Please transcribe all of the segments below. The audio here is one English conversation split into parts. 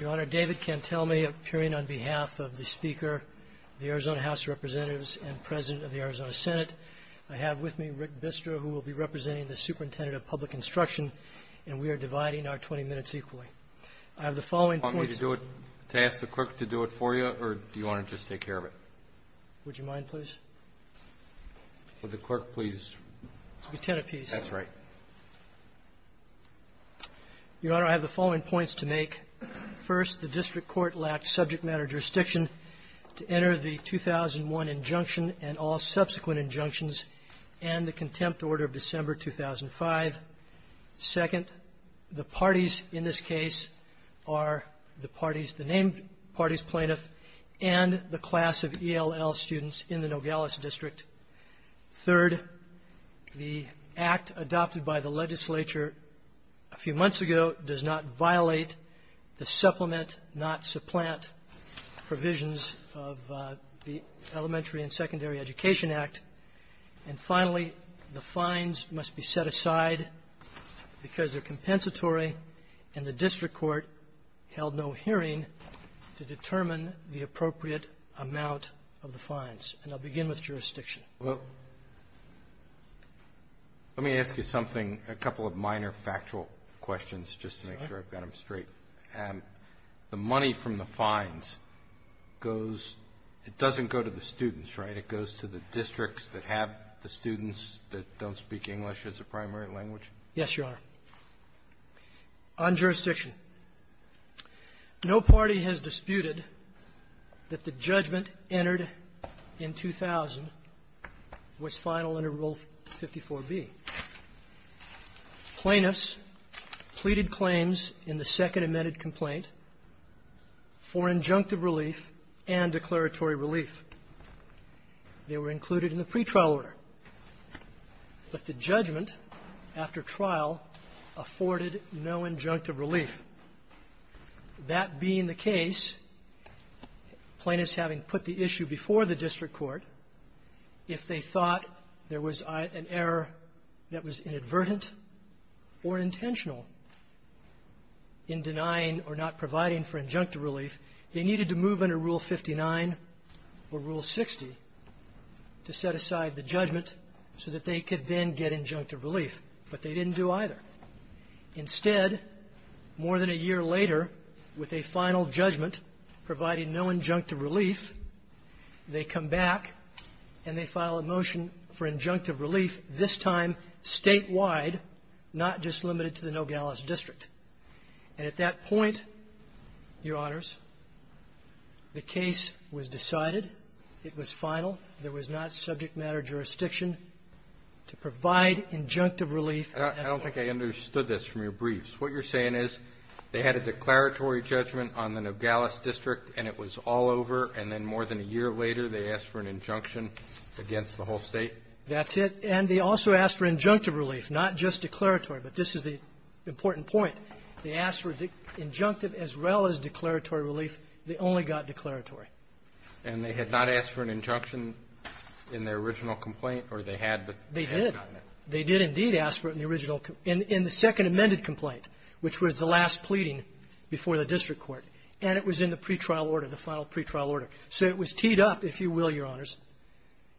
Your Honor, David Cantelme, appearing on behalf of the Speaker of the Arizona House of Representatives and President of the Arizona Senate. I have with me Rick Bistra, who will be representing the Superintendent of Public Instruction, and we are dividing our 20 minutes equally. I have the following points... Do you want me to do it, to ask the clerk to do it for you, or do you want to just take care of it? Would you mind, please? Would the clerk, please? It'll be ten apiece. That's right. Your Honor, I have the following points to make. First, the district court lacked subject matter jurisdiction to enter the 2001 injunction and all subsequent injunctions and the contempt order of December 2005. Second, the parties in this case are the parties, the named parties plaintiff and the class of ELL students in the Nogales district. Third, the act adopted by the legislature a few months ago does not violate the supplement, not supplant provisions of the Elementary and Secondary Education Act. And finally, the fines must be set aside because they're compensatory, and the district court held no hearing to determine the appropriate amount of the fines. And I'll begin with jurisdiction. Well, let me ask you something, a couple of minor factual questions, just to make sure I've got them straight. The money from the fines goes, it doesn't go to the students, right? It goes to the districts that have the students that don't speak English as a primary language? Yes, Your Honor. On jurisdiction, no party has disputed that the judgment entered in 2000 was final under Rule 54b. Plaintiffs pleaded claims in the second amended complaint for injunctive relief and declaratory relief. They were included in the pretrial order. But the judgment after trial afforded no injunctive relief. That being the case, plaintiffs having put the issue before the district court, if they thought there was an error that was inadvertent or intentional in denying or not providing for injunctive relief, they needed to move under Rule 59 or Rule 60 to set aside the judgment so that they could then get injunctive relief. But they didn't do either. Instead, more than a year later, with a final judgment providing no injunctive relief, they come back and they file a motion for injunctive relief, this time statewide, not just limited to the Nogales district. And at that point, Your Honors, the case was decided. It was final. There was not subject matter jurisdiction to provide injunctive relief as such. And I think I understood this from your briefs. What you're saying is they had a declaratory judgment on the Nogales district and it was all over, and then more than a year later they asked for an injunction against the whole State? That's it. And they also asked for injunctive relief, not just declaratory. But this is the important point. They asked for injunctive as well as declaratory relief. They only got declaratory. And they had not asked for an injunction in their original complaint, or they had, but they had gotten it. They did indeed ask for it in the original, in the second amended complaint, which was the last pleading before the district court. And it was in the pretrial order, the final pretrial order. So it was teed up, if you will, Your Honors.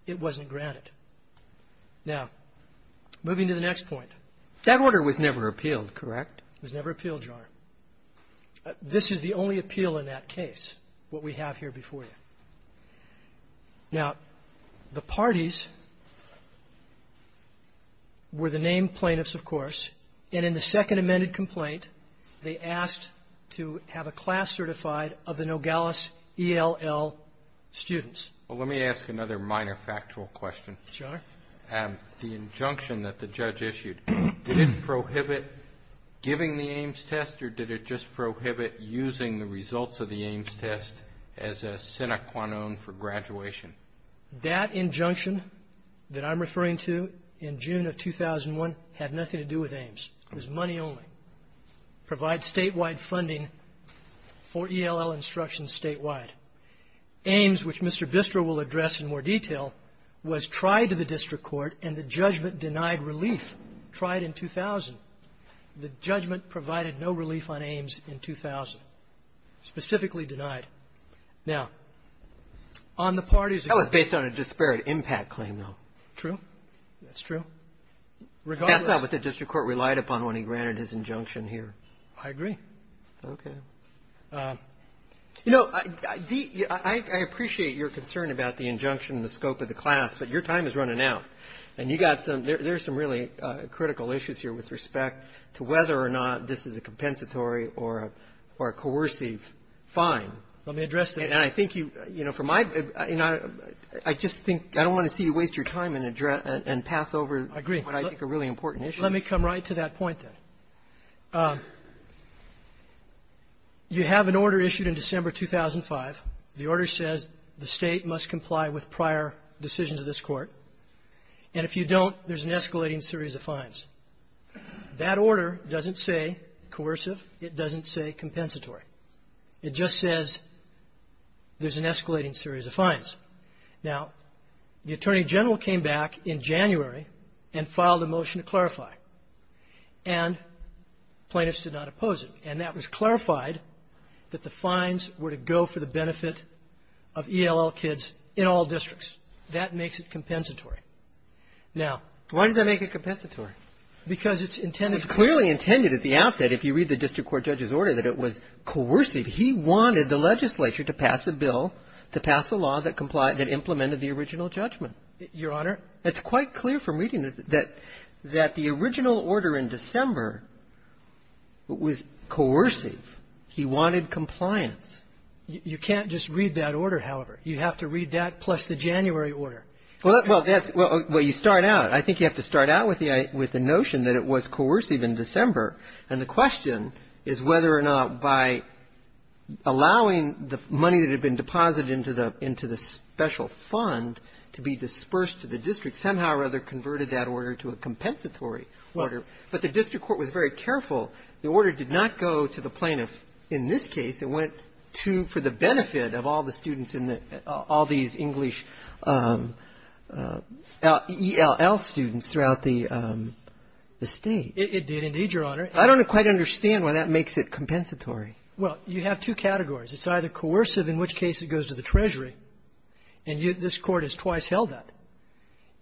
It wasn't granted. Now, moving to the next point. That order was never appealed, correct? It was never appealed, Your Honor. This is the only appeal in that case, what we have here before you. Now, the parties were the named plaintiffs, of course. And in the second amended complaint, they asked to have a class certified of the Nogales ELL students. Well, let me ask another minor factual question. Sure. The injunction that the judge issued, did it prohibit giving the Ames test, or did it just prohibit using the results of the Ames test as a sine qua non for graduation? That injunction that I'm referring to in June of 2001 had nothing to do with Ames. It was money only. Provide statewide funding for ELL instruction statewide. Ames, which Mr. Bistro will address in more detail, was tried to the district court, and the judgment denied relief. Tried in 2000. The judgment provided no relief on Ames in 2000. Specifically denied. Now, on the parties of the district court That was based on a disparate impact claim, though. True. That's true. Regardless That's not what the district court relied upon when he granted his injunction here. I agree. Okay. You know, I appreciate your concern about the injunction and the scope of the class, but your time is running out. And you got some — there's some really critical issues here with respect to whether or not this is a compensatory or a coercive fine. Let me address that. And I think you — you know, from my — you know, I just think — I don't want to see you waste your time and address — and pass over what I think are really important issues. Let me come right to that point, then. You have an order issued in December 2005. The order says the State must comply with prior decisions of this Court. And if you don't, there's an escalating series of fines. That order doesn't say coercive. It doesn't say compensatory. It just says there's an escalating series of fines. Now, the Attorney General came back in January and filed a motion to clarify. And plaintiffs did not oppose it. And that was clarified that the fines were to go for the benefit of ELL kids in all districts. That makes it compensatory. Now — Why does that make it compensatory? Because it's intended — It's clearly intended at the outset, if you read the district court judge's order, that it was coercive. He wanted the legislature to pass a bill to pass a law that complied — that implemented the original judgment. Your Honor — It's quite clear from reading it that the original order in December was coercive. He wanted compliance. You can't just read that order, however. You have to read that plus the January order. Well, that's — well, you start out. I think you have to start out with the notion that it was coercive in December. And the question is whether or not, by allowing the money that had been deposited into the — into the special fund to be dispersed to the district, somehow or other converted that order to a compensatory order. But the district court was very careful. The order did not go to the plaintiff in this case. It went to — for the benefit of all the students in the — all these English ELL students throughout the State. It did, indeed, Your Honor. I don't quite understand why that makes it compensatory. Well, you have two categories. It's either coercive, in which case it goes to the Treasury, and this Court has twice held that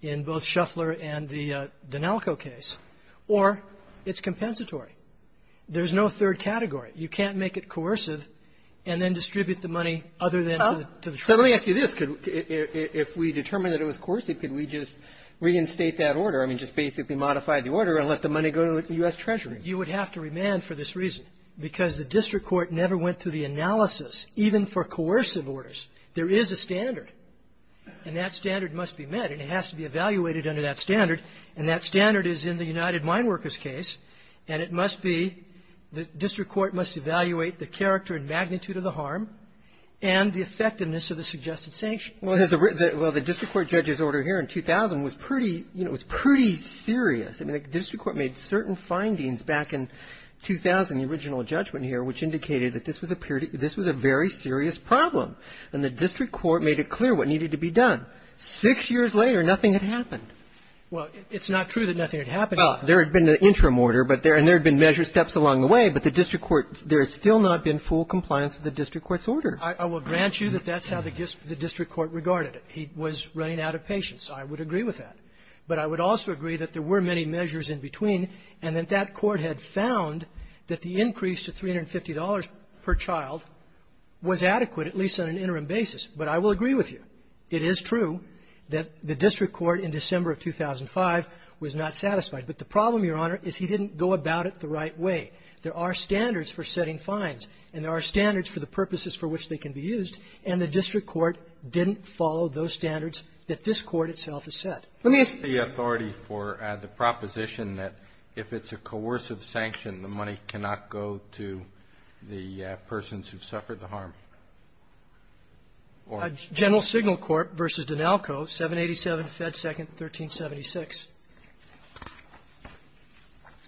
in both Shuffler and the D'Analco case, or it's compensatory. There's no third category. You can't make it coercive and then distribute the money other than to the Treasury. So let me ask you this. Could — if we determined that it was coercive, could we just reinstate that order? I mean, just basically modify the order and let the money go to the U.S. Treasury? You would have to remand for this reason. Because the district court never went through the analysis, even for coercive orders. There is a standard, and that standard must be met. And it has to be evaluated under that standard. And that standard is in the United Mine Workers case. And it must be — the district court must evaluate the character and magnitude of the harm and the effectiveness of the suggested sanction. Well, the district court judge's order here in 2000 was pretty — you know, it was pretty serious. I mean, the district court made certain findings back in 2000, the original judgment here, which indicated that this was a — this was a very serious problem. And the district court made it clear what needed to be done. Six years later, nothing had happened. Well, it's not true that nothing had happened. Oh, there had been an interim order, but there — and there had been measure steps along the way. But the district court — there has still not been full compliance with the district court's order. I will grant you that that's how the district court regarded it. He was running out of patience. I would agree with that. But I would also agree that there were many measures in between, and that that court had found that the increase to $350 per child was adequate, at least on an interim basis. But I will agree with you. It is true that the district court in December of 2005 was not satisfied. But the problem, Your Honor, is he didn't go about it the right way. There are standards for setting fines, and there are standards for the purposes for which they can be used. Let me ask you a question. What's the authority for the proposition that if it's a coercive sanction, the money cannot go to the persons who suffered the harm? General Signal Court v. D'Analco, 787 Fed 2nd, 1376.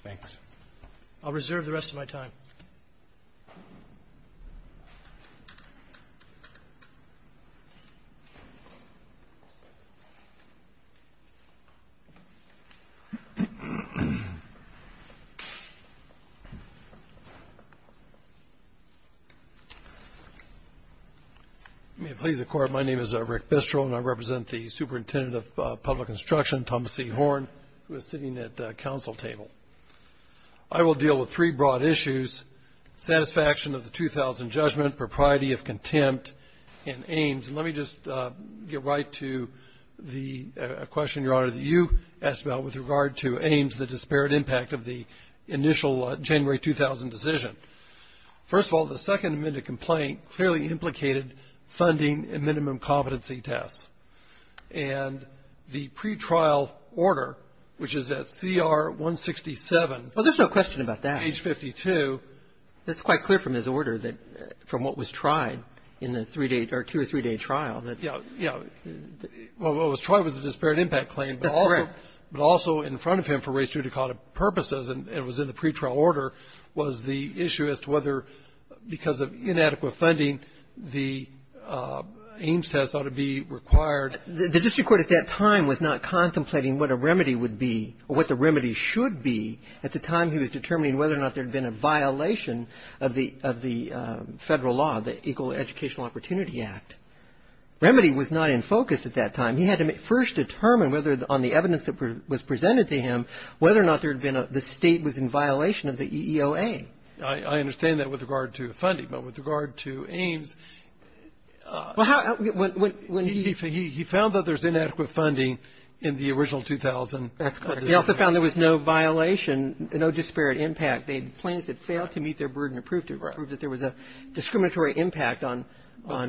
Thanks. I'll reserve the rest of my time. Mr. Bistro. If you may please record, my name is Rick Bistro, and I represent the Superintendent of Public Instruction, Thomas C. Horn, who is sitting at the council table. I will deal with three broad issues, satisfaction of the 2000 judgment, propriety of contempt, and Ames. Let me just get right to the question, Your Honor, that you asked about with regard to Ames, the disparate impact of the initial January 2000 decision. First of all, the Second Amendment complaint clearly implicated funding and minimum competency tests. And the pretrial order, which is at CR-167. Well, there's no question about that. Page 52. That's quite clear from his order that from what was tried in the three-day or two- or three-day trial. Yeah. What was tried was the disparate impact claim. That's correct. But also in front of him for race-judicata purposes, and it was in the pretrial order, was the issue as to whether, because of inadequate funding, the Ames test ought to be required. The district court at that time was not contemplating what a remedy would be or what the remedy should be at the time he was determining whether or not there had been a violation of the Federal law, the Equal Educational Opportunity Act. Remedy was not in focus at that time. He had to first determine whether on the evidence that was presented to him whether or not there had been a state was in violation of the EEOA. I understand that with regard to funding. But with regard to Ames, he found that there's inadequate funding in the original 2000 decision. That's correct. He also found there was no violation, no disparate impact. They had claims that failed to meet their burden to prove that there was a discriminatory impact on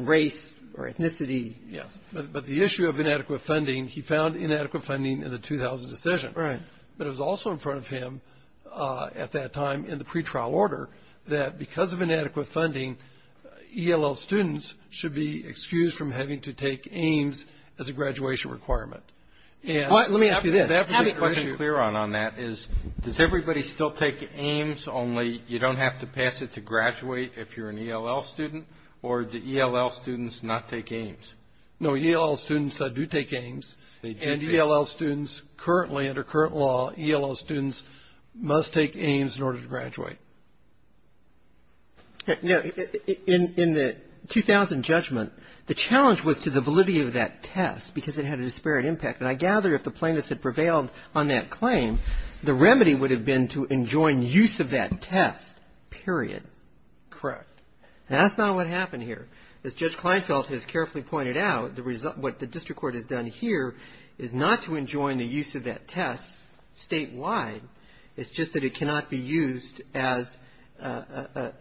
race or ethnicity. Yes. But the issue of inadequate funding, he found inadequate funding in the 2000 decision. Right. But it was also in front of him at that time in the pretrial order that because of inadequate funding, ELL students should be excused from having to take Ames as a graduation requirement. All right. Let me ask you this. Let me make my question clear on that. Does everybody still take Ames, only you don't have to pass it to graduate if you're an ELL student? Or do ELL students not take Ames? No. ELL students do take Ames. to graduate. Now, in the 2000 judgment, the challenge was to the validity of that test because it had a disparate impact. And I gather if the plaintiffs had prevailed on that claim, the remedy would have been to enjoin use of that test, period. Correct. That's not what happened here. As Judge Kleinfeld has carefully pointed out, what the district court has done here is not to enjoin the use of that test statewide. It's just that it cannot be used as a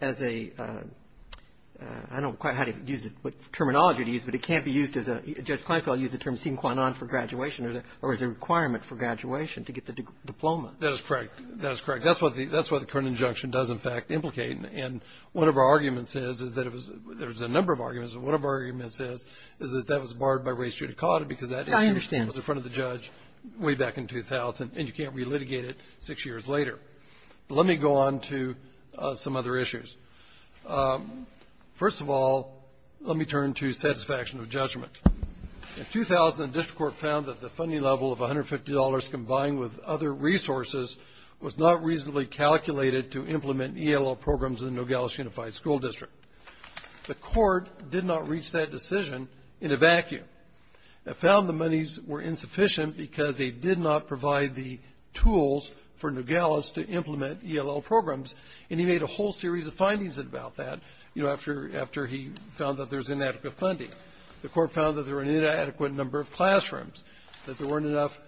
— I don't quite know how to use it, what terminology to use, but it can't be used as a — Judge Kleinfeld used the term sine qua non for graduation or as a requirement for graduation to get the diploma. That is correct. That is correct. That's what the current injunction does, in fact, implicate. And one of our arguments is that it was — there's a number of arguments, but one of our arguments is that that was barred by res judicata because that issue was in front of the judge way back in 2000, and you can't relitigate it. Six years later. But let me go on to some other issues. First of all, let me turn to satisfaction of judgment. In 2000, the district court found that the funding level of $150 combined with other resources was not reasonably calculated to implement ELL programs in the Nogales Unified School District. The court did not reach that decision in a vacuum. It found the monies were insufficient because they did not provide the tools for Nogales to implement ELL programs, and he made a whole series of findings about that, you know, after — after he found that there was inadequate funding. The court found that there were an inadequate number of classrooms, that there weren't enough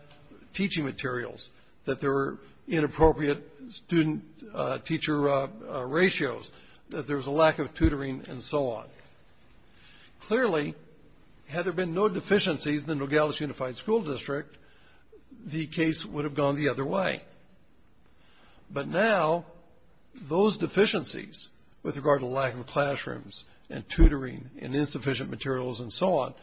teaching materials, that there were inappropriate student-teacher ratios, that there was a lack of tutoring, and so on. Clearly, had there been no deficiencies in the Nogales Unified School District, the case would have gone the other way. But now those deficiencies with regard to lack of classrooms and tutoring and insufficient materials and so on,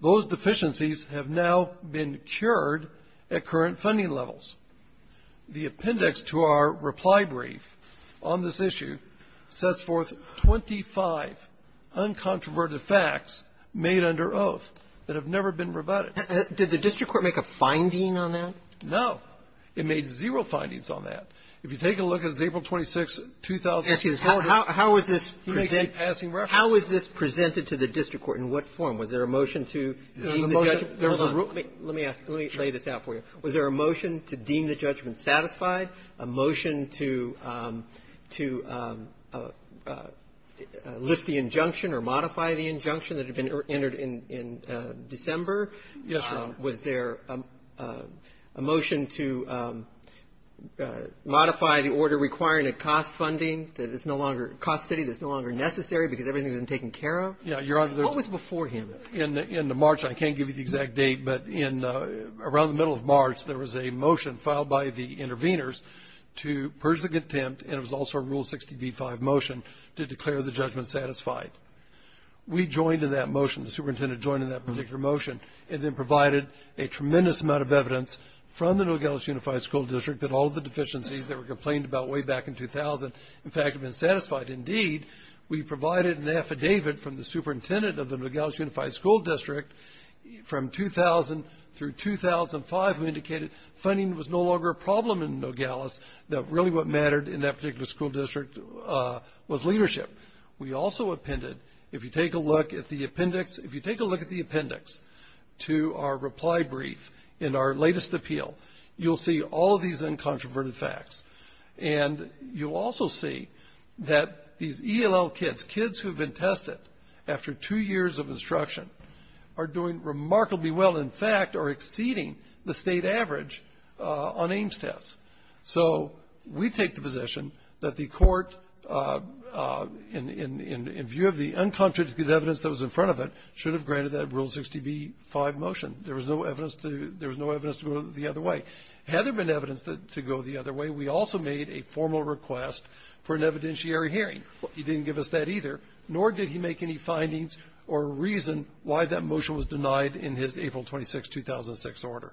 those deficiencies have now been cured at current funding levels. The appendix to our reply brief on this issue sets forth 25 uncontroverted facts made under oath that have never been rebutted. Did the district court make a finding on that? No. It made zero findings on that. If you take a look at April 26, 2000 — Excuse me. How is this — He makes a passing reference. How is this presented to the district court? In what form? Was there a motion to leave the judge — There was a motion. Hold on. Let me ask. Let me lay this out for you. Was there a motion to deem the judgment satisfied, a motion to lift the injunction or modify the injunction that had been entered in December? Yes, Your Honor. Was there a motion to modify the order requiring a cost funding that is no longer — cost study that is no longer necessary because everything has been taken care of? Yes, Your Honor. What was before him? I can't give you the exact date, but around the middle of March, there was a motion filed by the intervenors to purge the contempt, and it was also a Rule 60b-5 motion to declare the judgment satisfied. We joined in that motion. The superintendent joined in that particular motion and then provided a tremendous amount of evidence from the Nogales Unified School District that all of the deficiencies that were complained about way back in 2000, in fact, had been satisfied. Indeed, we provided an affidavit from the superintendent of the Nogales Unified School District from 2000 through 2005 who indicated funding was no longer a problem in Nogales, that really what mattered in that particular school district was leadership. We also appended, if you take a look at the appendix, if you take a look at the appendix to our reply brief in our latest appeal, you'll see all of these uncontroverted facts, and you'll also see that these ELL kids, kids who have been tested after two years of instruction, are doing remarkably well, in fact, are exceeding the State average on Ames tests. So we take the position that the Court, in view of the uncontradicted evidence that was in front of it, should have granted that Rule 60b-5 motion. There was no evidence to go the other way. Had there been evidence to go the other way, we also made a formal request for an evidentiary hearing. He didn't give us that either, nor did he make any findings or reason why that motion was denied in his April 26th, 2006, order.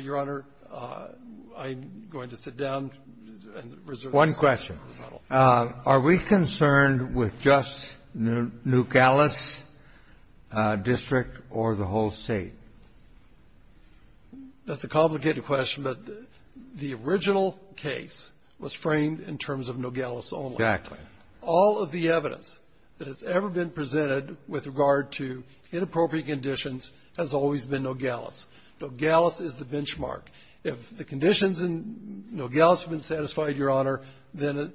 Your Honor, I'm going to sit down and reserve the rest of my time. Kennedy. One question. Are we concerned with just Nogales District or the whole State? That's a complicated question, but the original case was framed in terms of Nogales only. Exactly. All of the evidence that has ever been presented with regard to inappropriate conditions has always been Nogales. Nogales is the benchmark. If the conditions in Nogales have been satisfied, Your Honor, then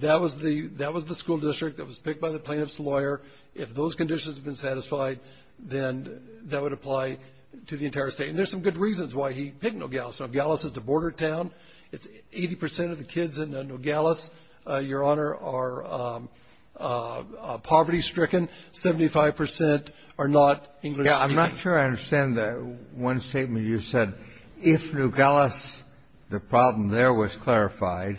that was the school district that was picked by the plaintiff's lawyer. If those conditions have been satisfied, then that would apply to the entire State. And there's some good reasons why he picked Nogales. Nogales is the border town. It's 80 percent of the kids in Nogales, Your Honor, are poverty-stricken. Seventy-five percent are not English-speaking. Yeah. I'm not sure I understand that one statement you said. If Nogales, the problem there was clarified,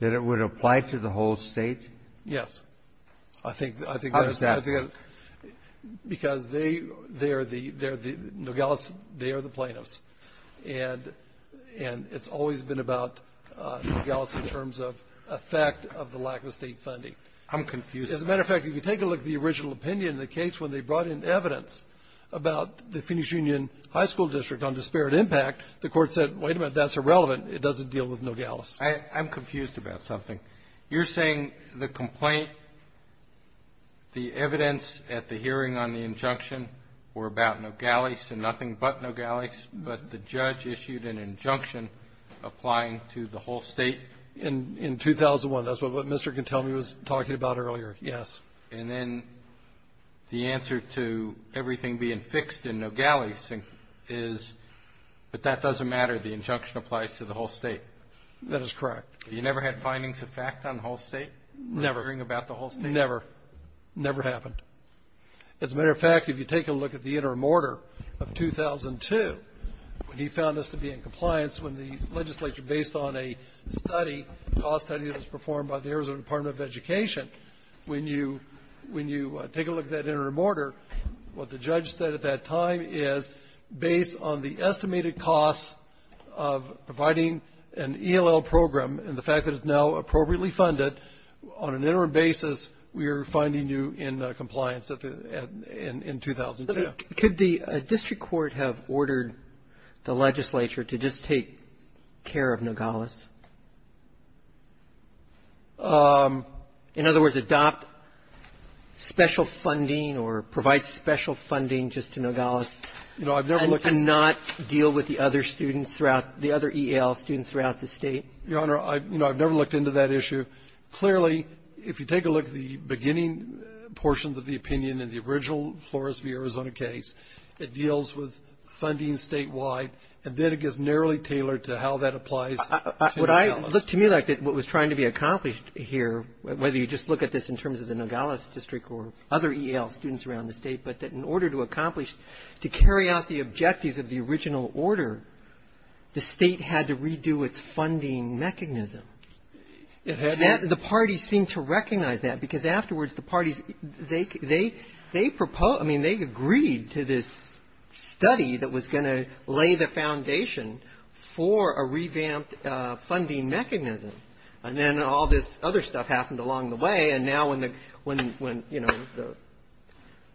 that it would apply to the whole State? Yes. How does that work? Because they are the Nogales. They are the plaintiffs. And it's always been about Nogales in terms of effect of the lack of State funding. I'm confused. As a matter of fact, if you take a look at the original opinion in the case when they brought in evidence about the Phoenix Union High School District on disparate impact, the Court said, wait a minute, that's irrelevant. It doesn't deal with Nogales. I'm confused about something. You're saying the complaint, the evidence at the hearing on the injunction, were about Nogales and nothing but Nogales, but the judge issued an injunction applying to the whole State? In 2001. That's what Mr. Gontelme was talking about earlier. Yes. And then the answer to everything being fixed in Nogales is, but that doesn't matter. The injunction applies to the whole State. That is correct. You never had findings of fact on the whole State? Never. Hearing about the whole State? Never. Never happened. As a matter of fact, if you take a look at the interim order of 2002, when he found us to be in compliance, when the legislature, based on a study, a cost study that was performed by the Arizona Department of Education, when you take a look at that interim order, what the judge said at that time is, based on the estimated costs of providing an ELL program and the fact that it's now appropriately funded, on an interim basis, we are finding you in compliance in 2002. Could the district court have ordered the legislature to just take care of Nogales? In other words, adopt special funding or provide special funding just to Nogales and not deal with the other students throughout the other ELL students throughout the State? Your Honor, I've never looked into that issue. Clearly, if you take a look at the beginning portions of the opinion in the original Flores v. Arizona case, it deals with funding Statewide, and then it gets narrowly tailored to how that applies to Nogales. Would I look to me like what was trying to be accomplished here, whether you just look at this in terms of the Nogales district or other ELL students around the State, but that in order to accomplish, to carry out the objectives of the original order, the State had to redo its funding mechanism. The parties seemed to recognize that because afterwards the parties, they proposed, I mean, they agreed to this study that was going to lay the foundation for a revamped funding mechanism. And then all this other stuff happened along the way. And now when the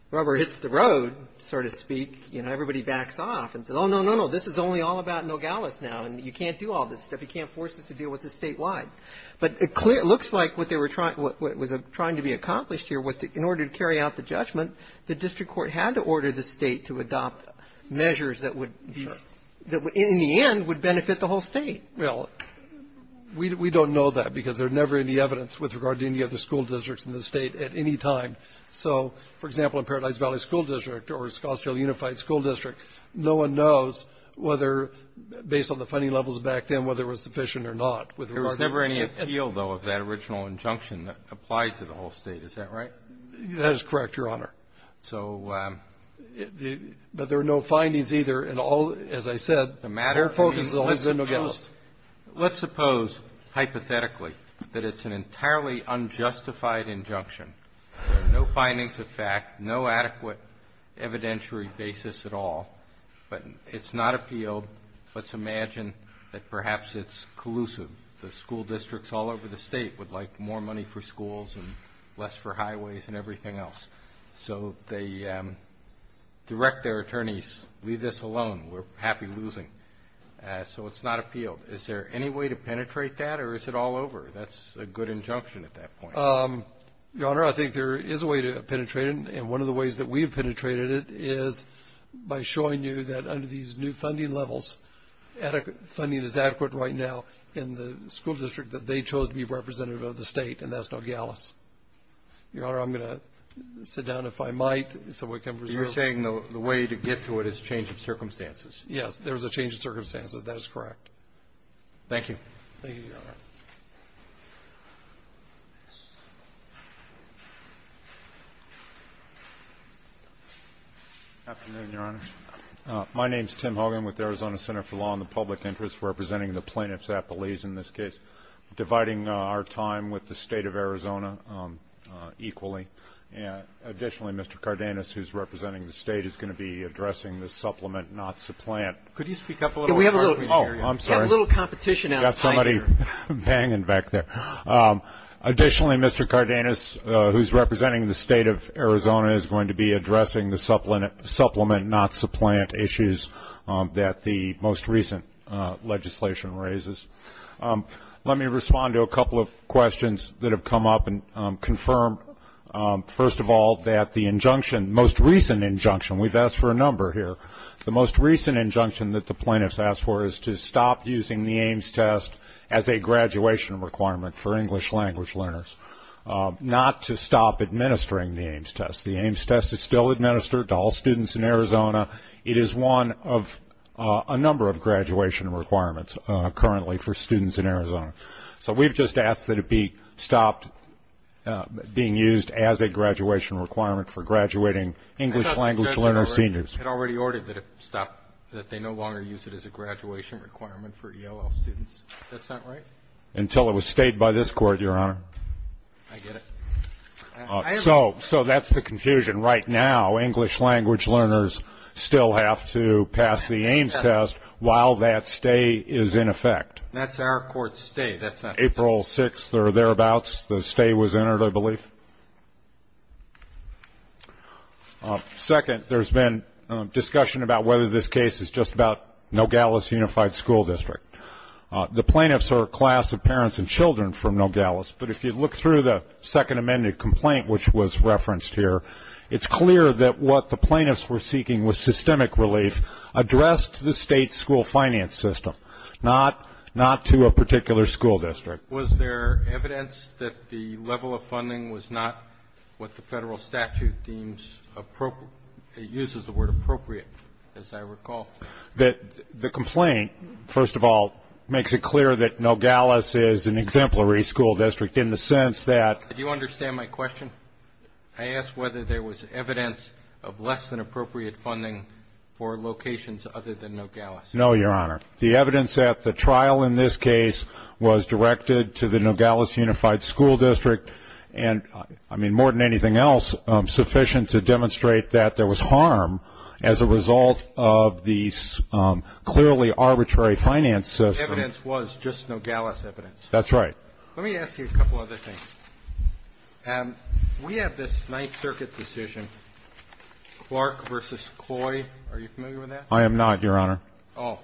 rubber hits the road, so to speak, everybody backs off and says, oh, no, no, no, this is only all about Nogales now, and you can't do all this stuff. You can't force us to deal with this Statewide. But it looks like what was trying to be accomplished here was in order to carry out the judgment, the district court had to order the State to adopt measures that would, in the end, would benefit the whole State. Well, we don't know that because there's never any evidence with regard to any other school districts in the State at any time. So, for example, in Paradise Valley School District or Scottsdale Unified School District, no one knows whether, based on the funding levels back then, whether it was sufficient or not with regard to that. Breyer. There was never any appeal, though, of that original injunction that applied to the whole State. Is that right? That is correct, Your Honor. So the — But there are no findings either in all, as I said. The matter — Let's suppose, hypothetically, that it's an entirely unjustified injunction, no findings of fact, no adequate evidentiary basis at all, but it's not appealed. Let's imagine that perhaps it's collusive. The school districts all over the State would like more money for schools and less for highways and everything else. So they direct their attorneys, leave this alone. We're happy losing. So it's not appealed. Is there any way to penetrate that, or is it all over? That's a good injunction at that point. Your Honor, I think there is a way to penetrate it, and one of the ways that we've penetrated it is by showing you that under these new funding levels, adequate funding is adequate right now in the school district that they chose to be representative of the State, and that's Nogales. Your Honor, I'm going to sit down, if I might, so we can preserve — You're saying the way to get to it is change of circumstances. Yes, there is a change of circumstances. That is correct. Thank you, Your Honor. Afternoon, Your Honor. My name is Tim Hogan with the Arizona Center for Law and the Public Interest, representing the plaintiffs' apologies in this case, dividing our time with the State of Arizona equally. Additionally, Mr. Cardenas, who is representing the State, is going to be addressing the supplement, not supplant, issues that the most recent legislation raises. Let me respond to a couple of questions that have come up and confirm, first of all, that the injunction, most recent injunction, we've asked for a number here, the most recent injunction that the plaintiffs asked for is to stop using the AIMS test as a graduation requirement for English language learners, not to stop administering the AIMS test. The AIMS test is still administered to all students in Arizona. It is one of a number of graduation requirements currently for students in Arizona. So we've just asked that it be stopped being used as a graduation requirement for graduating English language learner seniors. It already ordered that it stop, that they no longer use it as a graduation requirement for ELL students. That's not right? Until it was stayed by this Court, Your Honor. I get it. So that's the confusion. Right now, English language learners still have to pass the AIMS test while that stay is in effect. That's our Court's stay. April 6th or thereabouts, the stay was entered, I believe. Second, there's been discussion about whether this case is just about Nogales Unified School District. The plaintiffs are a class of parents and children from Nogales, but if you look through the second amended complaint, which was referenced here, it's clear that what the plaintiffs were seeking was systemic relief addressed to the state's school finance system, not to a particular school district. Was there evidence that the level of funding was not what the federal statute deems appropriate? It uses the word appropriate, as I recall. The complaint, first of all, makes it clear that Nogales is an exemplary school district in the sense that. Do you understand my question? I asked whether there was evidence of less than appropriate funding for locations other than Nogales. No, Your Honor. The evidence at the trial in this case was directed to the Nogales Unified School District and, I mean, more than anything else, sufficient to demonstrate that there was harm as a result of the clearly arbitrary finance system. Evidence was just Nogales evidence. That's right. Let me ask you a couple other things. We have this Ninth Circuit decision, Clark v. Coy. Are you familiar with that? I am not, Your Honor. Oh.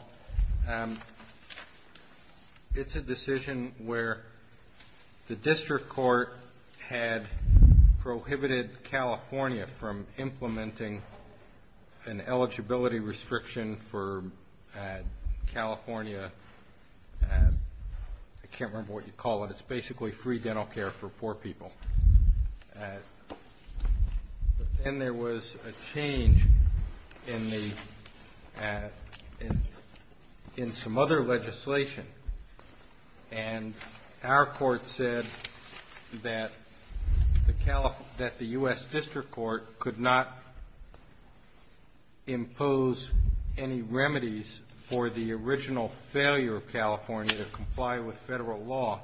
It's a decision where the district court had prohibited California from implementing an eligibility restriction for California. I can't remember what you call it. It's basically free dental care for poor people. But then there was a change in some other legislation, and our court said that the U.S. District Court could not impose any remedies for the original failure of California to comply with federal law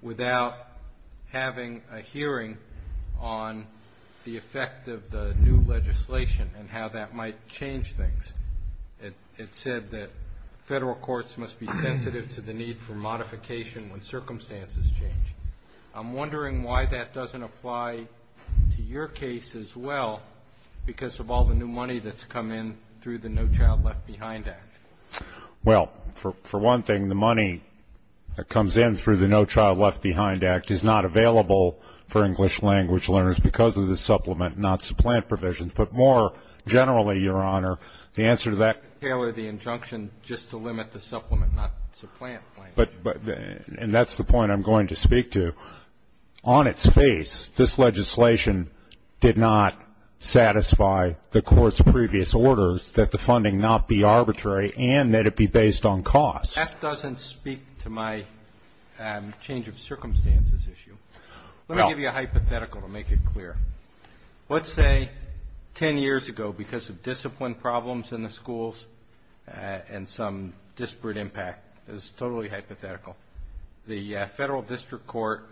without having a hearing on the effect of the new legislation and how that might change things. It said that federal courts must be sensitive to the need for modification when circumstances change. I'm wondering why that doesn't apply to your case as well because of all the new money that's come in through the No Child Left Behind Act. Well, for one thing, the money that comes in through the No Child Left Behind Act is not available for English language learners because of the supplement, not supplant provision. But more generally, Your Honor, the answer to that ---- Tailor the injunction just to limit the supplement, not supplant language. And that's the point I'm going to speak to. On its face, this legislation did not satisfy the Court's previous orders that the funding not be arbitrary and that it be based on cost. That doesn't speak to my change of circumstances issue. Let me give you a hypothetical to make it clear. Let's say 10 years ago, because of discipline problems in the schools and some disparate impact, this is totally hypothetical, the federal district court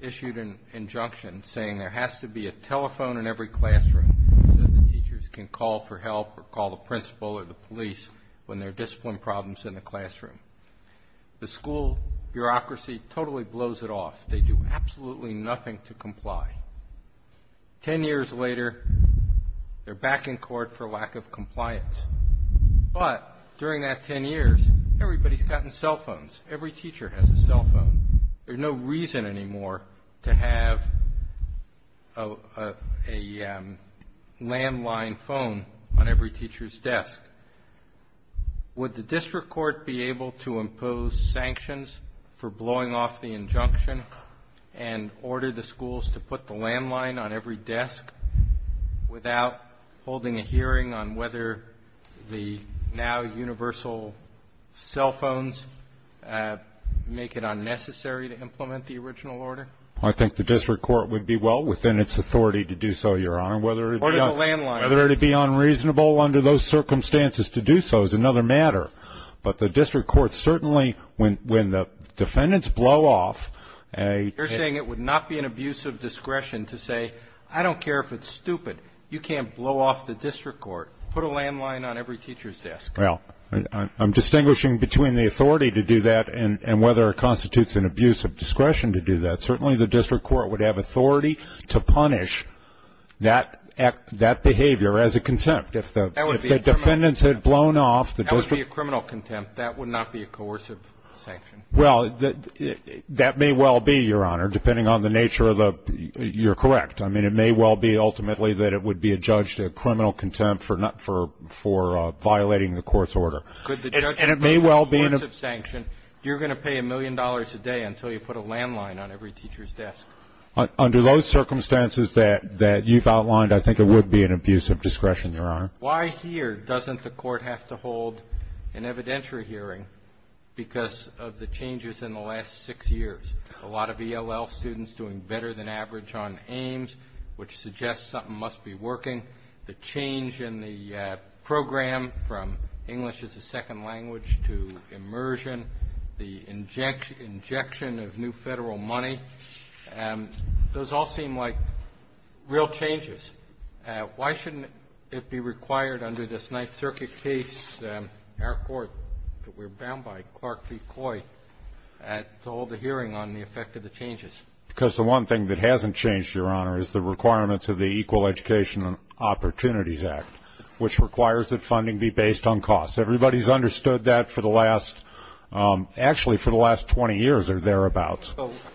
issued an injunction saying there has to be a telephone in every classroom so the teachers can call for help or call the principal or the police when there are discipline problems in the classroom. The school bureaucracy totally blows it off. They do absolutely nothing to comply. Ten years later, they're back in court for lack of compliance. But during that 10 years, everybody's gotten cell phones. Every teacher has a cell phone. There's no reason anymore to have a landline phone on every teacher's desk. Would the district court be able to impose sanctions for blowing off the injunction and order the schools to put the landline on every desk without holding a hearing on whether the now universal cell phones make it unnecessary to implement the original order? I think the district court would be well within its authority to do so, Your Honor, whether it be unreasonable under those circumstances to do so is another matter. But the district court certainly, when the defendants blow off a ---- You're saying it would not be an abuse of discretion to say I don't care if it's stupid. You can't blow off the district court, put a landline on every teacher's desk. Well, I'm distinguishing between the authority to do that and whether it constitutes an abuse of discretion to do that. Certainly the district court would have authority to punish that behavior as a contempt. If the defendants had blown off the district ---- That would be a criminal contempt. That would not be a coercive sanction. Well, that may well be, Your Honor, depending on the nature of the ---- you're correct. I mean, it may well be ultimately that it would be a judge to criminal contempt for violating the court's order. Could the judge ---- And it may well be -------- coercive sanction. You're going to pay a million dollars a day until you put a landline on every teacher's desk. Under those circumstances that you've outlined, I think it would be an abuse of discretion, Your Honor. Why here doesn't the court have to hold an evidentiary hearing because of the changes in the last six years? A lot of ELL students doing better than average on AIMS, which suggests something must be working. The change in the program from English as a second language to immersion, the injection of new Federal money, those all seem like real changes. Why shouldn't it be required under this Ninth Circuit case, our court that we're bound by, to hold a hearing on the effect of the changes? Because the one thing that hasn't changed, Your Honor, is the requirements of the Equal Education Opportunities Act, which requires that funding be based on cost. Everybody's understood that for the last ---- actually, for the last 20 years or thereabouts.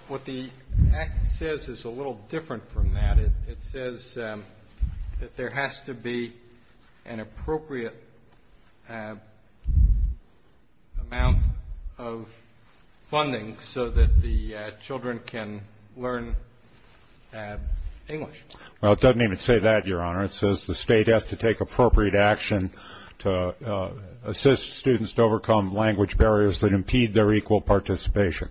What the act says is a little different from that. It says that there has to be an appropriate amount of funding so that the children can learn English. Well, it doesn't even say that, Your Honor. It says the state has to take appropriate action to assist students to overcome language barriers that impede their equal participation.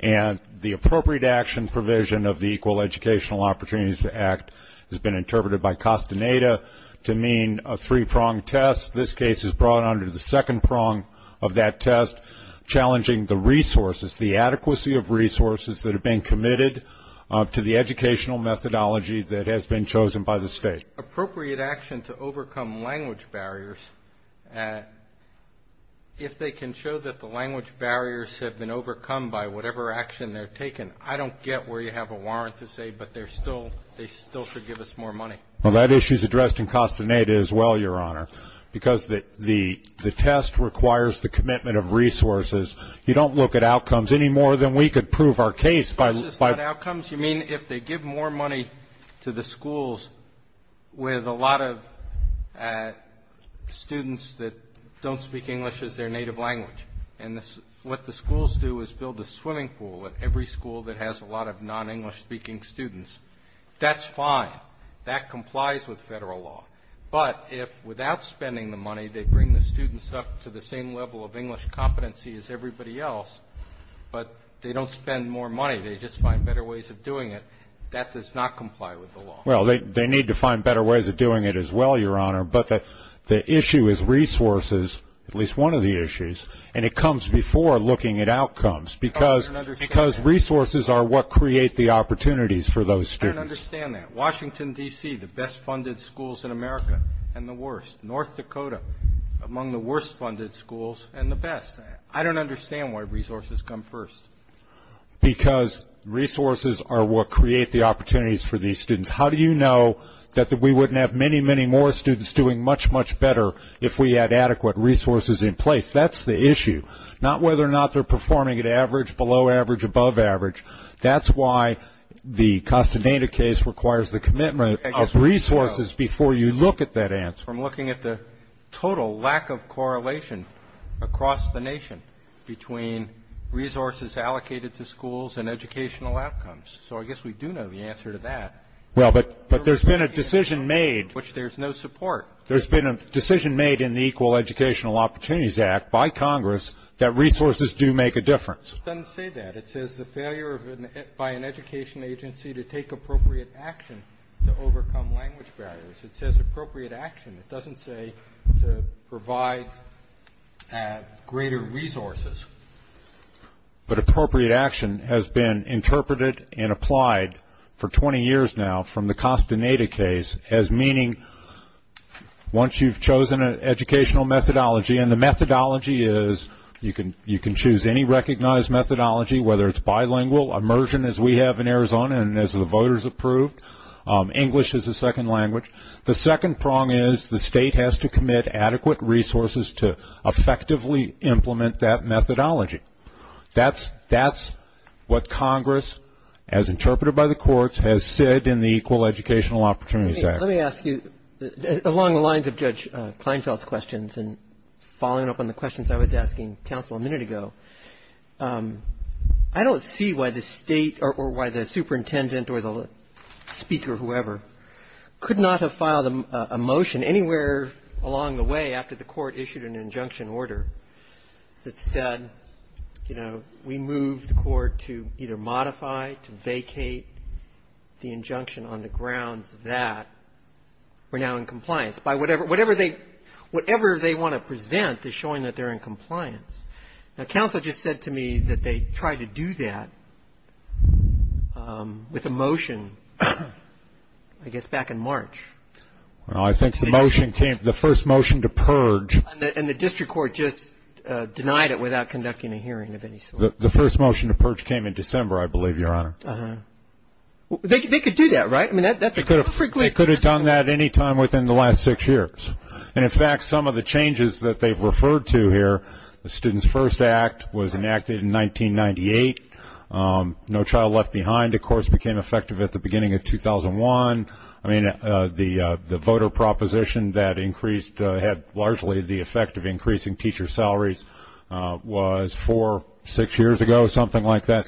And the appropriate action provision of the Equal Educational Opportunities Act has been interpreted by Costaneda to mean a three-pronged test. This case is brought under the second prong of that test, challenging the resources, the adequacy of resources that have been committed to the educational methodology that has been chosen by the state. Appropriate action to overcome language barriers, if they can show that the language barriers have been overcome by whatever action they're taking, I don't get where you have a warrant to say, but they still should give us more money. Well, that issue is addressed in Costaneda as well, Your Honor, because the test requires the commitment of resources. You don't look at outcomes any more than we could prove our case by ---- Well, they need to find better ways of doing it as well, Your Honor. But the issue is that the state has to take appropriate action to assist students at least one of the issues, and it comes before looking at outcomes, because resources are what create the opportunities for those students. I don't understand that. Washington, D.C., the best-funded schools in America and the worst. North Dakota, among the worst-funded schools and the best. I don't understand why resources come first. Because resources are what create the opportunities for these students. How do you know that we wouldn't have many, many more students doing much, much better if we had adequate resources in place? That's the issue, not whether or not they're performing at average, below average, above average. That's why the Costaneda case requires the commitment of resources before you look at that answer. I'm looking at the total lack of correlation across the nation between resources allocated to schools and educational outcomes. So I guess we do know the answer to that. Well, but there's been a decision made. Which there's no support. There's been a decision made in the Equal Educational Opportunities Act by Congress that resources do make a difference. It doesn't say that. It says the failure by an education agency to take appropriate action to overcome language barriers. It says appropriate action. It doesn't say to provide greater resources. But appropriate action has been interpreted and applied for 20 years now from the Costaneda case as meaning once you've chosen an educational methodology, and the methodology is you can choose any recognized methodology, whether it's bilingual, immersion as we have in Arizona and as the voters approved, English as a second language. The second prong is the state has to commit adequate resources to effectively implement that methodology. That's what Congress, as interpreted by the courts, has said in the Equal Educational Opportunities Act. Let me ask you, along the lines of Judge Kleinfeld's questions and following up on the questions I was asking counsel a minute ago, I don't see why the State or why the superintendent or the speaker, whoever, could not have filed a motion anywhere along the way after the Court issued an injunction order that said, you know, we move the Court to either modify, to vacate the injunction on the grounds that we're now in compliance. Whatever they want to present is showing that they're in compliance. Now, counsel just said to me that they tried to do that with a motion, I guess, back in March. Well, I think the motion came, the first motion to purge. And the district court just denied it without conducting a hearing of any sort. The first motion to purge came in December, I believe, Your Honor. They could do that, right? They could have done that any time within the last six years. And, in fact, some of the changes that they've referred to here, the Students First Act was enacted in 1998, No Child Left Behind, of course, became effective at the beginning of 2001. I mean, the voter proposition that increased, had largely the effect of increasing teacher salaries, was four, six years ago, something like that.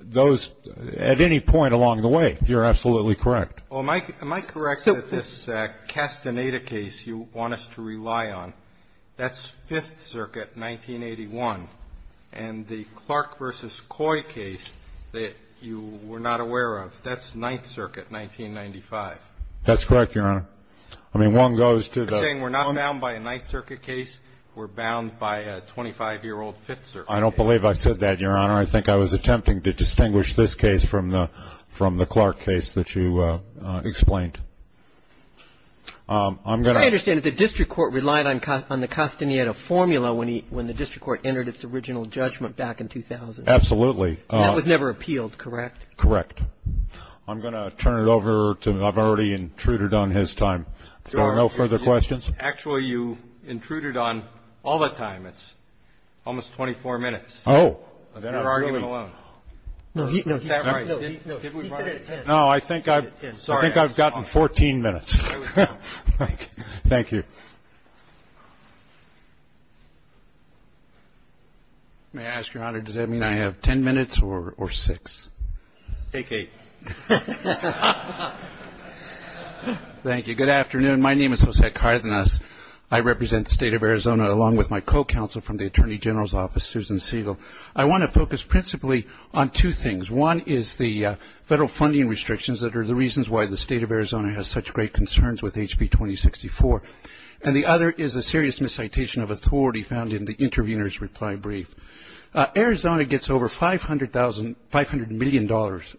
Those, at any point along the way, you're absolutely correct. Well, am I correct that this Castaneda case you want us to rely on, that's Fifth Circuit, 1981. And the Clark v. Coy case that you were not aware of, that's Ninth Circuit, 1995. That's correct, Your Honor. I mean, one goes to the other. You're saying we're not bound by a Ninth Circuit case, we're bound by a 25-year-old Fifth Circuit case. I don't believe I said that, Your Honor. I think I was attempting to distinguish this case from the Clark case that you explained. I'm going to — I understand that the district court relied on the Castaneda formula when the district court entered its original judgment back in 2000. Absolutely. That was never appealed, correct? Correct. I'm going to turn it over to — I've already intruded on his time. Is there no further questions? Actually, you intruded on all the time. It's almost 24 minutes. Oh. You're arguing alone. No, he said it at 10. No, I think I've gotten 14 minutes. Thank you. May I ask, Your Honor, does that mean I have 10 minutes or 6? Take 8. Thank you. Good afternoon. My name is Jose Cardenas. I represent the State of Arizona along with my co-counsel from the Attorney General's Office, Susan Siegel. I want to focus principally on two things. One is the federal funding restrictions that are the reasons why the State of Arizona has such great concerns with HB 2064. And the other is a serious miscitation of authority found in the intervener's reply brief. Arizona gets over $500 million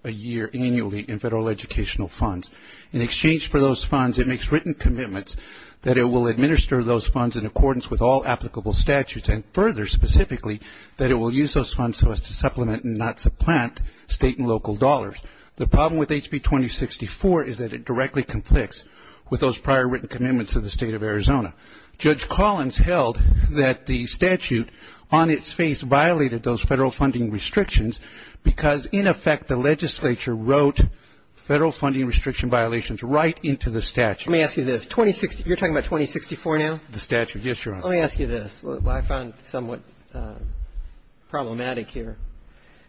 a year annually in federal educational funds. In exchange for those funds, it makes written commitments that it will administer those funds in accordance with all applicable statutes, and further, specifically, that it will use those funds so as to supplement and not supplant state and local dollars. The problem with HB 2064 is that it directly conflicts with those prior written commitments of the State of Arizona. Judge Collins held that the statute on its face violated those federal funding restrictions because, in effect, the legislature wrote federal funding restriction violations right into the statute. Let me ask you this. You're talking about 2064 now? The statute. Yes, Your Honor. Let me ask you this, what I found somewhat problematic here.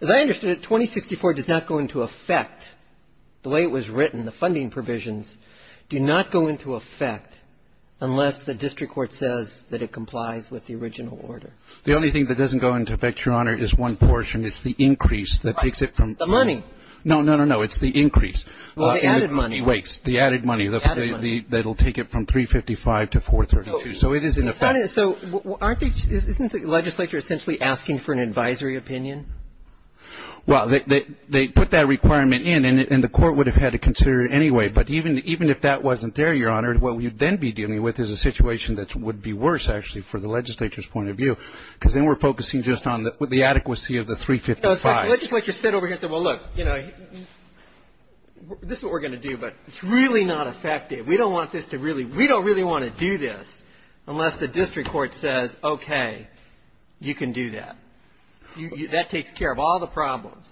As I understand it, 2064 does not go into effect the way it was written. The funding provisions do not go into effect unless the district court says that it complies with the original order. The only thing that doesn't go into effect, Your Honor, is one portion. It's the increase that takes it from the original. The money. No, no, no, no. It's the increase. Well, the added money. Wait. The added money. The added money. That will take it from 355 to 432. So it is in effect. So isn't the legislature essentially asking for an advisory opinion? Well, they put that requirement in, and the court would have had to consider it anyway. But even if that wasn't there, Your Honor, what you'd then be dealing with is a situation that would be worse, actually, for the legislature's point of view, because then we're focusing just on the adequacy of the 355. Well, in fact, the legislature sat over here and said, well, look, you know, this is what we're going to do, but it's really not effective. We don't want this to really we don't really want to do this unless the district court says, okay, you can do that. That takes care of all the problems.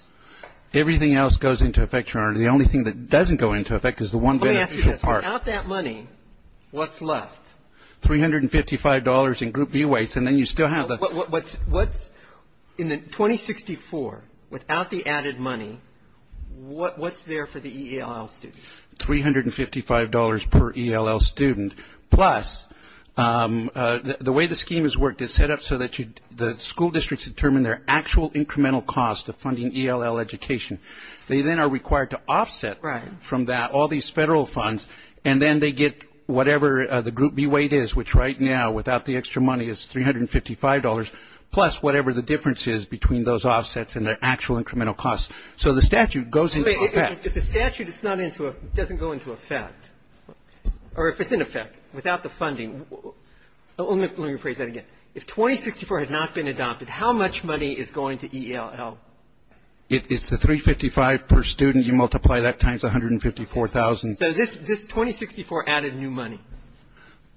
Everything else goes into effect, Your Honor. The only thing that doesn't go into effect is the one beneficial part. Let me ask you this. Without that money, what's left? $355 in group view weights, and then you still have the. What's in the 2064, without the added money, what's there for the ELL student? $355 per ELL student, plus the way the scheme is worked, it's set up so that the school districts determine their actual incremental cost of funding ELL education. They then are required to offset from that all these federal funds, and then they get whatever the group view weight is, which right now, without the extra money, is $355, plus whatever the difference is between those offsets and the actual incremental cost. So the statute goes into effect. If the statute is not into a, doesn't go into effect, or if it's in effect, without the funding, let me rephrase that again. If 2064 had not been adopted, how much money is going to ELL? It's the $355 per student. You multiply that times the $154,000. So this 2064 added new money?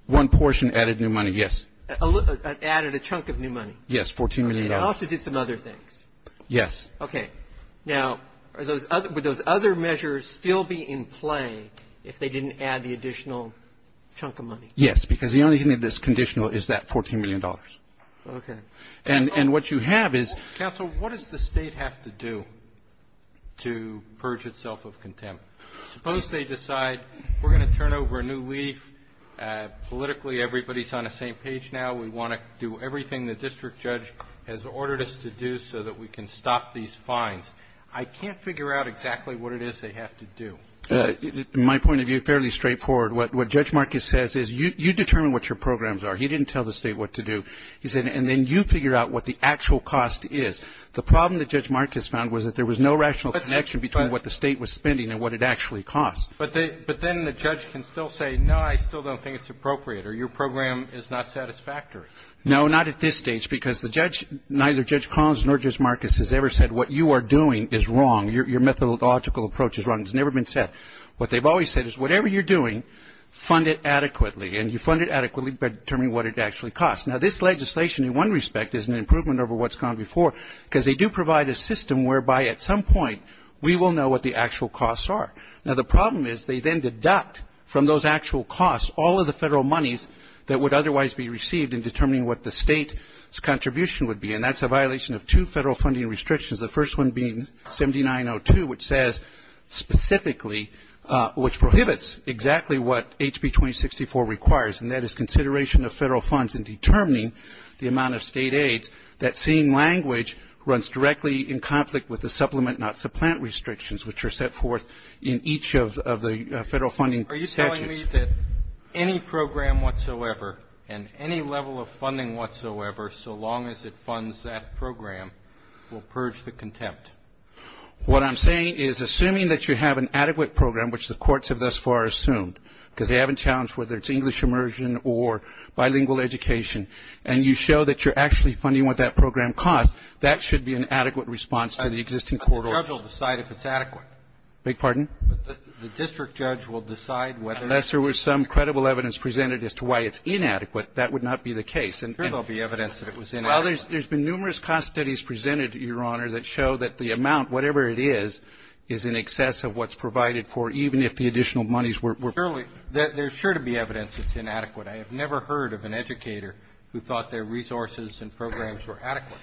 One portion added new money, yes. Added a chunk of new money? Yes, $14 million. It also did some other things. Yes. Okay. Now, are those other, would those other measures still be in play if they didn't add the additional chunk of money? Yes, because the only thing that's conditional is that $14 million. Okay. And what you have is ---- Counsel, what does the State have to do to purge itself of contempt? Suppose they decide we're going to turn over a new leaf. Politically, everybody's on the same page now. We want to do everything the district judge has ordered us to do so that we can stop these fines. I can't figure out exactly what it is they have to do. My point of view, fairly straightforward, what Judge Marcus says is you determine what your programs are. He didn't tell the State what to do. He said, and then you figure out what the actual cost is. The problem that Judge Marcus found was that there was no rational connection between what the State was spending and what it actually cost. But then the judge can still say, no, I still don't think it's appropriate, or your program is not satisfactory. No, not at this stage, because the judge, neither Judge Collins nor Judge Marcus has ever said what you are doing is wrong. Your methodological approach is wrong. It's never been said. What they've always said is whatever you're doing, fund it adequately. And you fund it adequately by determining what it actually costs. Now, this legislation, in one respect, is an improvement over what's gone before because they do provide a system whereby, at some point, we will know what the actual costs are. Now, the problem is they then deduct from those actual costs all of the Federal monies that would otherwise be received in determining what the State's contribution would be. And that's a violation of two Federal funding restrictions, the first one being 7902, which says specifically, which prohibits exactly what HB 2064 requires, and that is consideration of Federal funds in determining the amount of State aids, that same language runs directly in conflict with the supplement, not supplant restrictions, which are set forth in each of the Federal funding statutes. Are you telling me that any program whatsoever and any level of funding whatsoever, so long as it funds that program, will purge the contempt? What I'm saying is, assuming that you have an adequate program, which the courts have thus far assumed, because they haven't challenged whether it's English immersion or bilingual education, and you show that you're actually funding what that program costs, that should be an adequate response to the existing court order. The judge will decide if it's adequate. I beg your pardon? The district judge will decide whether it's adequate. Unless there was some credible evidence presented as to why it's inadequate, that would not be the case. Sure there will be evidence that it was inadequate. Well, there's been numerous cost studies presented, Your Honor, that show that the amount, whatever it is, is in excess of what's provided for, even if the additional monies were provided. Surely, there's sure to be evidence that it's inadequate. I have never heard of an educator who thought their resources and programs were adequate.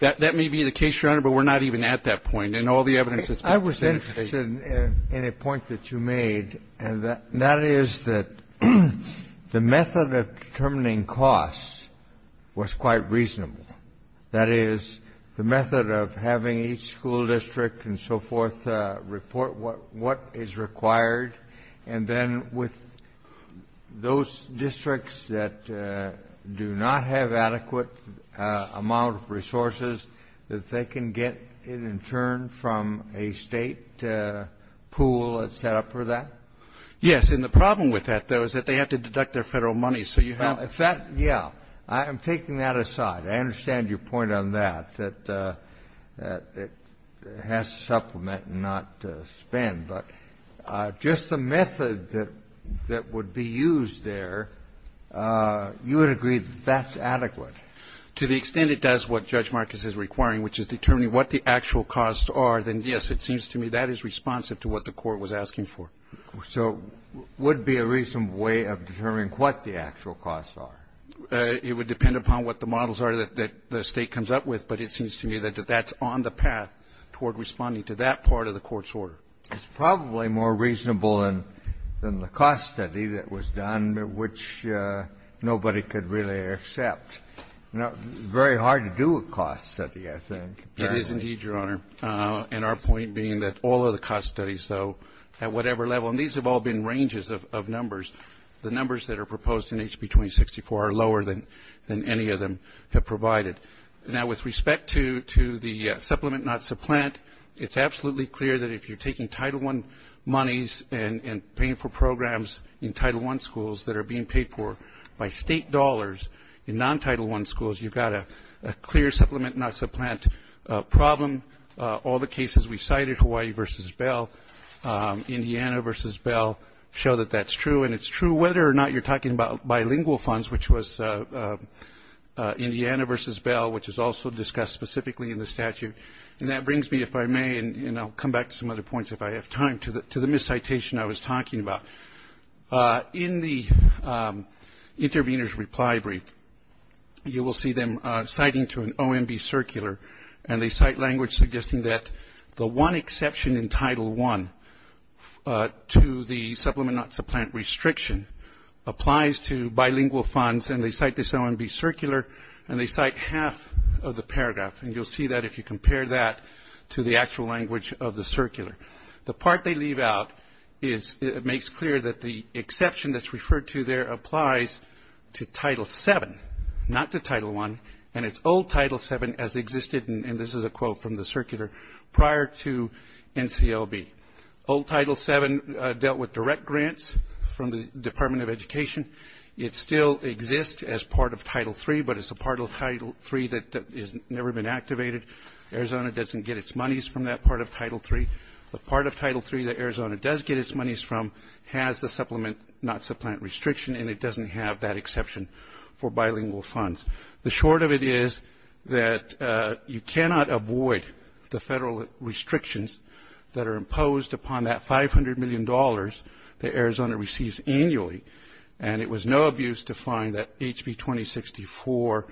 That may be the case, Your Honor, but we're not even at that point. In all the evidence that's been presented today. I was interested in a point that you made, and that is that the method of determining costs was quite reasonable. That is, the method of having each school district and so forth report what is required, and then with those districts that do not have adequate amount of resources, that they can get it in turn from a State pool that's set up for that? Yes. And the problem with that, though, is that they have to deduct their Federal money, so you have to do that. Well, if that — yeah. I'm taking that aside. I understand your point on that, that it has to supplement and not spend. But just the method that would be used there, you would agree that that's adequate? To the extent it does what Judge Marcus is requiring, which is determining what the actual costs are, then, yes, it seems to me that is responsive to what the Court was asking for. So it would be a reasonable way of determining what the actual costs are. It would depend upon what the models are that the State comes up with, but it seems to me that that's on the path toward responding to that part of the Court's order. It's probably more reasonable than the cost study that was done, which nobody could really accept. It's very hard to do a cost study, I think. It is indeed, Your Honor. And our point being that all of the cost studies, though, at whatever level, and these have all been ranges of numbers, the numbers that are proposed in HB 2064 are lower than any of them have provided. Now, with respect to the supplement not supplant, it's absolutely clear that if you're taking Title I monies and paying for programs in Title I schools that are being paid for by State dollars in non-Title I schools, you've got a clear supplement not supplant problem. All the cases we cited, Hawaii v. Bell, Indiana v. Bell, show that that's true. And it's true whether or not you're talking about bilingual funds, which was Indiana v. Bell, which is also discussed specifically in the statute. And that brings me, if I may, and I'll come back to some other points if I have time, to the miscitation I was talking about. In the intervener's reply brief, you will see them citing to an OMB circular, and they cite the language suggesting that the one exception in Title I to the supplement not supplant restriction applies to bilingual funds, and they cite this OMB circular, and they cite half of the paragraph. And you'll see that if you compare that to the actual language of the circular. The part they leave out is it makes clear that the exception that's referred to there to Title VII, not to Title I, and it's old Title VII as existed, and this is a quote from the circular, prior to NCLB. Old Title VII dealt with direct grants from the Department of Education. It still exists as part of Title III, but it's a part of Title III that has never been activated. Arizona doesn't get its monies from that part of Title III. The part of Title III that Arizona does get its monies from has the supplement not supplant restriction, and it doesn't have that exception for bilingual funds. The short of it is that you cannot avoid the federal restrictions that are imposed upon that $500 million that Arizona receives annually, and it was no abuse to find that HB 2064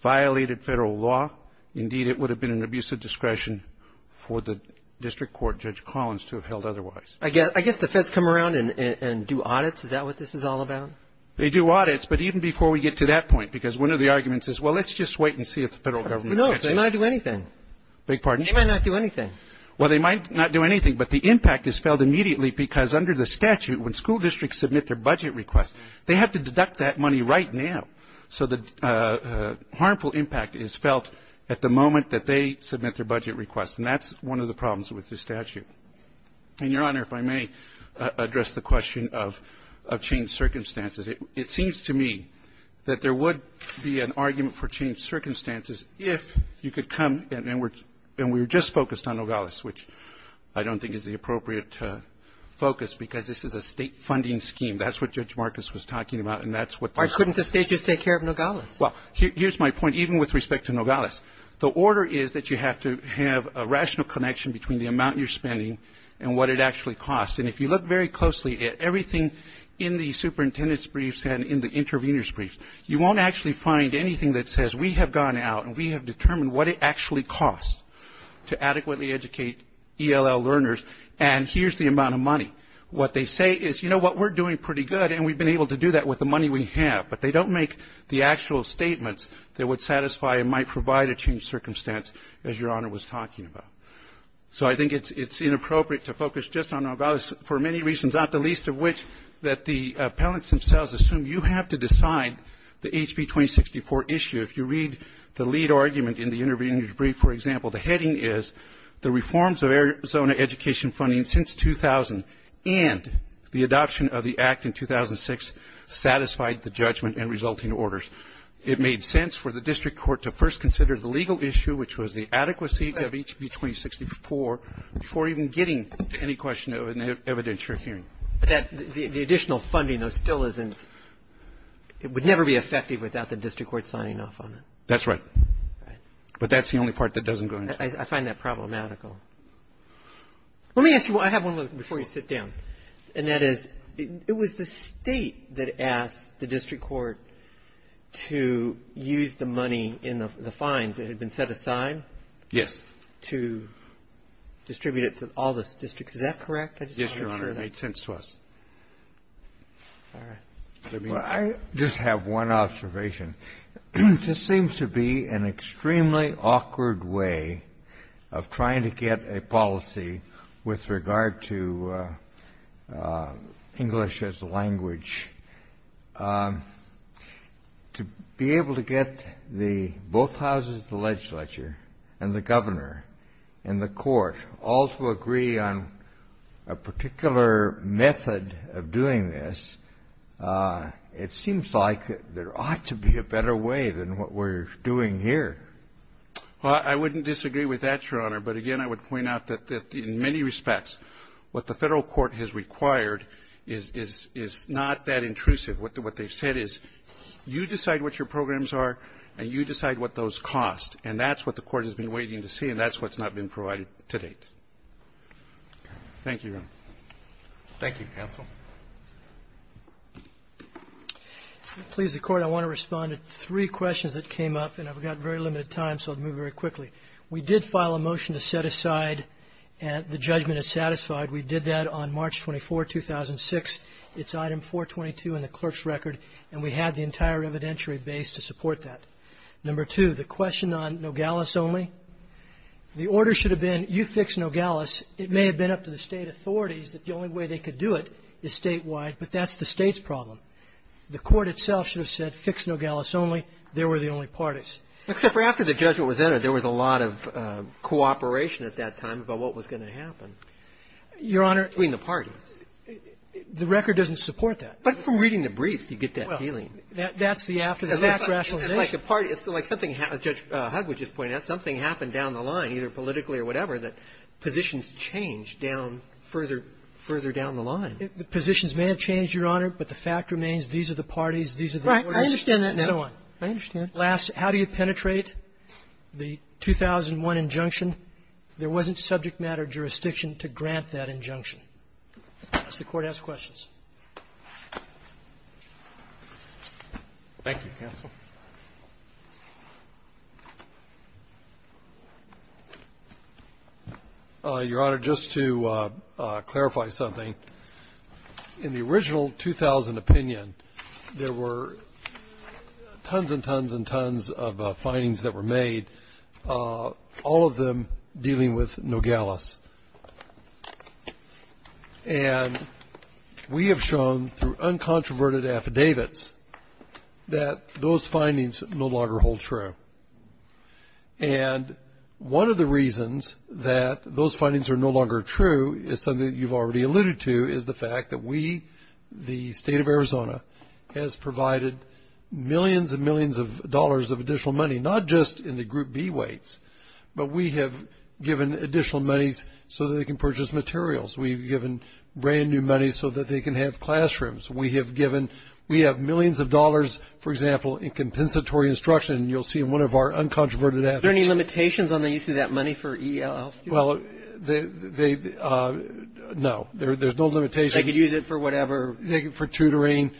violated federal law. Indeed, it would have been an abuse of discretion for the district court, Judge Collins, to have held otherwise. I guess the feds come around and do audits. Is that what this is all about? They do audits, but even before we get to that point, because one of the arguments is, well, let's just wait and see if the federal government catches us. No, they might not do anything. Big pardon? They might not do anything. Well, they might not do anything, but the impact is felt immediately because under the statute, when school districts submit their budget request, they have to deduct that money right now. So the harmful impact is felt at the moment that they submit their budget request, and that's one of the problems with this statute. And, Your Honor, if I may address the question of changed circumstances, it seems to me that there would be an argument for changed circumstances if you could come and then we're just focused on Nogales, which I don't think is the appropriate focus because this is a State funding scheme. That's what Judge Marcus was talking about, and that's what they're saying. Why couldn't the State just take care of Nogales? Well, here's my point. Even with respect to Nogales, the order is that you have to have a rational connection between the amount you're spending and what it actually costs. And if you look very closely at everything in the superintendent's briefs and in the intervener's briefs, you won't actually find anything that says we have gone out and we have determined what it actually costs to adequately educate ELL learners, and here's the amount of money. What they say is, you know what, we're doing pretty good, and we've been able to do that with the money we have. But they don't make the actual statements that would satisfy and might provide a changed circumstance, as Your Honor was talking about. So I think it's inappropriate to focus just on Nogales for many reasons, not the least of which that the appellants themselves assume you have to decide the HB 2064 issue. If you read the lead argument in the intervener's brief, for example, the heading is the reforms of Arizona education funding since 2000 and the adoption of the act in 2006 satisfied the judgment and resulting orders. It made sense for the district court to first consider the legal issue, which was the adequacy of HB 2064, before even getting to any question of an evidentiary hearing. But that the additional funding, though, still isn't, it would never be effective without the district court signing off on it. That's right. Right. But that's the only part that doesn't go into it. I find that problematical. Let me ask you, I have one before you sit down, And that is, it was the State that asked the district court to use the money in the fines that had been set aside? Yes. To distribute it to all the districts. Is that correct? Yes, Your Honor. It made sense to us. All right. Well, I just have one observation. This seems to be an extremely awkward way of trying to get a policy with regard to English as a language. To be able to get both houses of the legislature and the governor and the court all to agree on a particular method of doing this, it seems like there ought to be a better way than what we're doing here. Well, I wouldn't disagree with that, Your Honor. But again, I would point out that in many respects, what the Federal court has required is not that intrusive. What they've said is, you decide what your programs are, and you decide what those cost. And that's what the Court has been waiting to see, and that's what's not been provided to date. Thank you, Your Honor. Thank you, counsel. Please, the Court, I want to respond to three questions that came up, and I've got very limited time, so I'll move very quickly. We did file a motion to set aside the judgment as satisfied. We did that on March 24, 2006. It's item 422 in the clerk's record, and we had the entire evidentiary base to support that. Number two, the question on Nogales only. The order should have been, you fix Nogales. It may have been up to the State authorities that the only way they could do it is statewide, but that's the State's problem. The Court itself should have said, fix Nogales only. They were the only parties. Except for after the judgment was entered, there was a lot of cooperation at that time about what was going to happen. Your Honor. Between the parties. The record doesn't support that. But from reading the briefs, you get that feeling. Well, that's the after-the-fact rationalization. It's like a party. It's like something, as Judge Hud would just point out, something happened down the river that positions changed down further, further down the line. The positions may have changed, Your Honor, but the fact remains these are the parties, these are the orders. Right. I understand that. And so on. I understand. Last, how do you penetrate the 2001 injunction? There wasn't subject matter jurisdiction to grant that injunction. Does the Court have questions? Thank you, counsel. Your Honor, just to clarify something. In the original 2000 opinion, there were tons and tons and tons of findings that were made, all of them dealing with Nogales. And we have shown, through uncontroverted affidavits, that those findings no longer hold true. And one of the reasons that those findings are no longer true is something that you've already alluded to, is the fact that we, the State of Arizona, has provided millions and millions of dollars of additional money, not just in the Group B weights, but we have given additional monies so that they can purchase materials. We've given brand new money so that they can have classrooms. We have given, we have millions of dollars, for example, in compensatory instruction, and you'll see in one of our uncontroverted affidavits. Are there any limitations on the use of that money for ELL? Well, they, no. There's no limitations. They could use it for whatever. Take it for tutoring.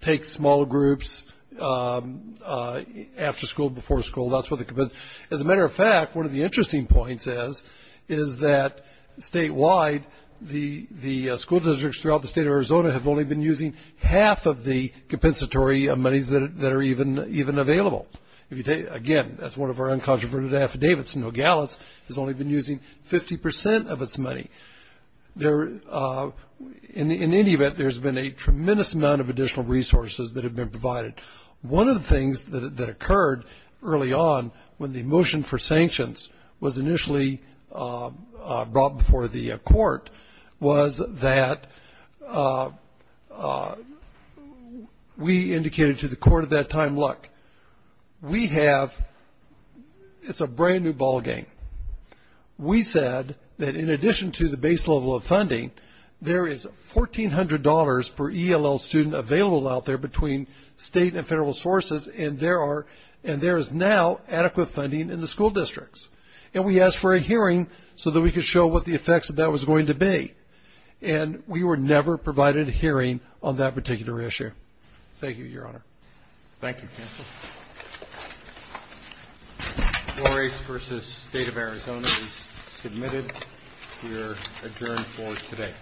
Take small groups after school, before school. That's what the, as a matter of fact, one of the interesting points is, is that statewide, the school districts throughout the State of Arizona have only been using half of the compensatory monies that are even available. Again, that's one of our uncontroverted affidavits. Nogales has only been using 50% of its money. There, in any event, there's been a tremendous amount of additional resources that have been provided. One of the things that occurred early on when the motion for sanctions was initially brought before the court was that we indicated to the court at that time, look, we have, it's a brand new ball game. We said that in addition to the base level of funding, there is $1,400 per ELL student available out there between state and federal sources, and there is now adequate funding in the school districts. And we asked for a hearing so that we could show what the effects of that was going to be. And we were never provided a hearing on that particular issue. Thank you, Your Honor. Thank you, Counsel. Flores v. State of Arizona is submitted. We are adjourned for today.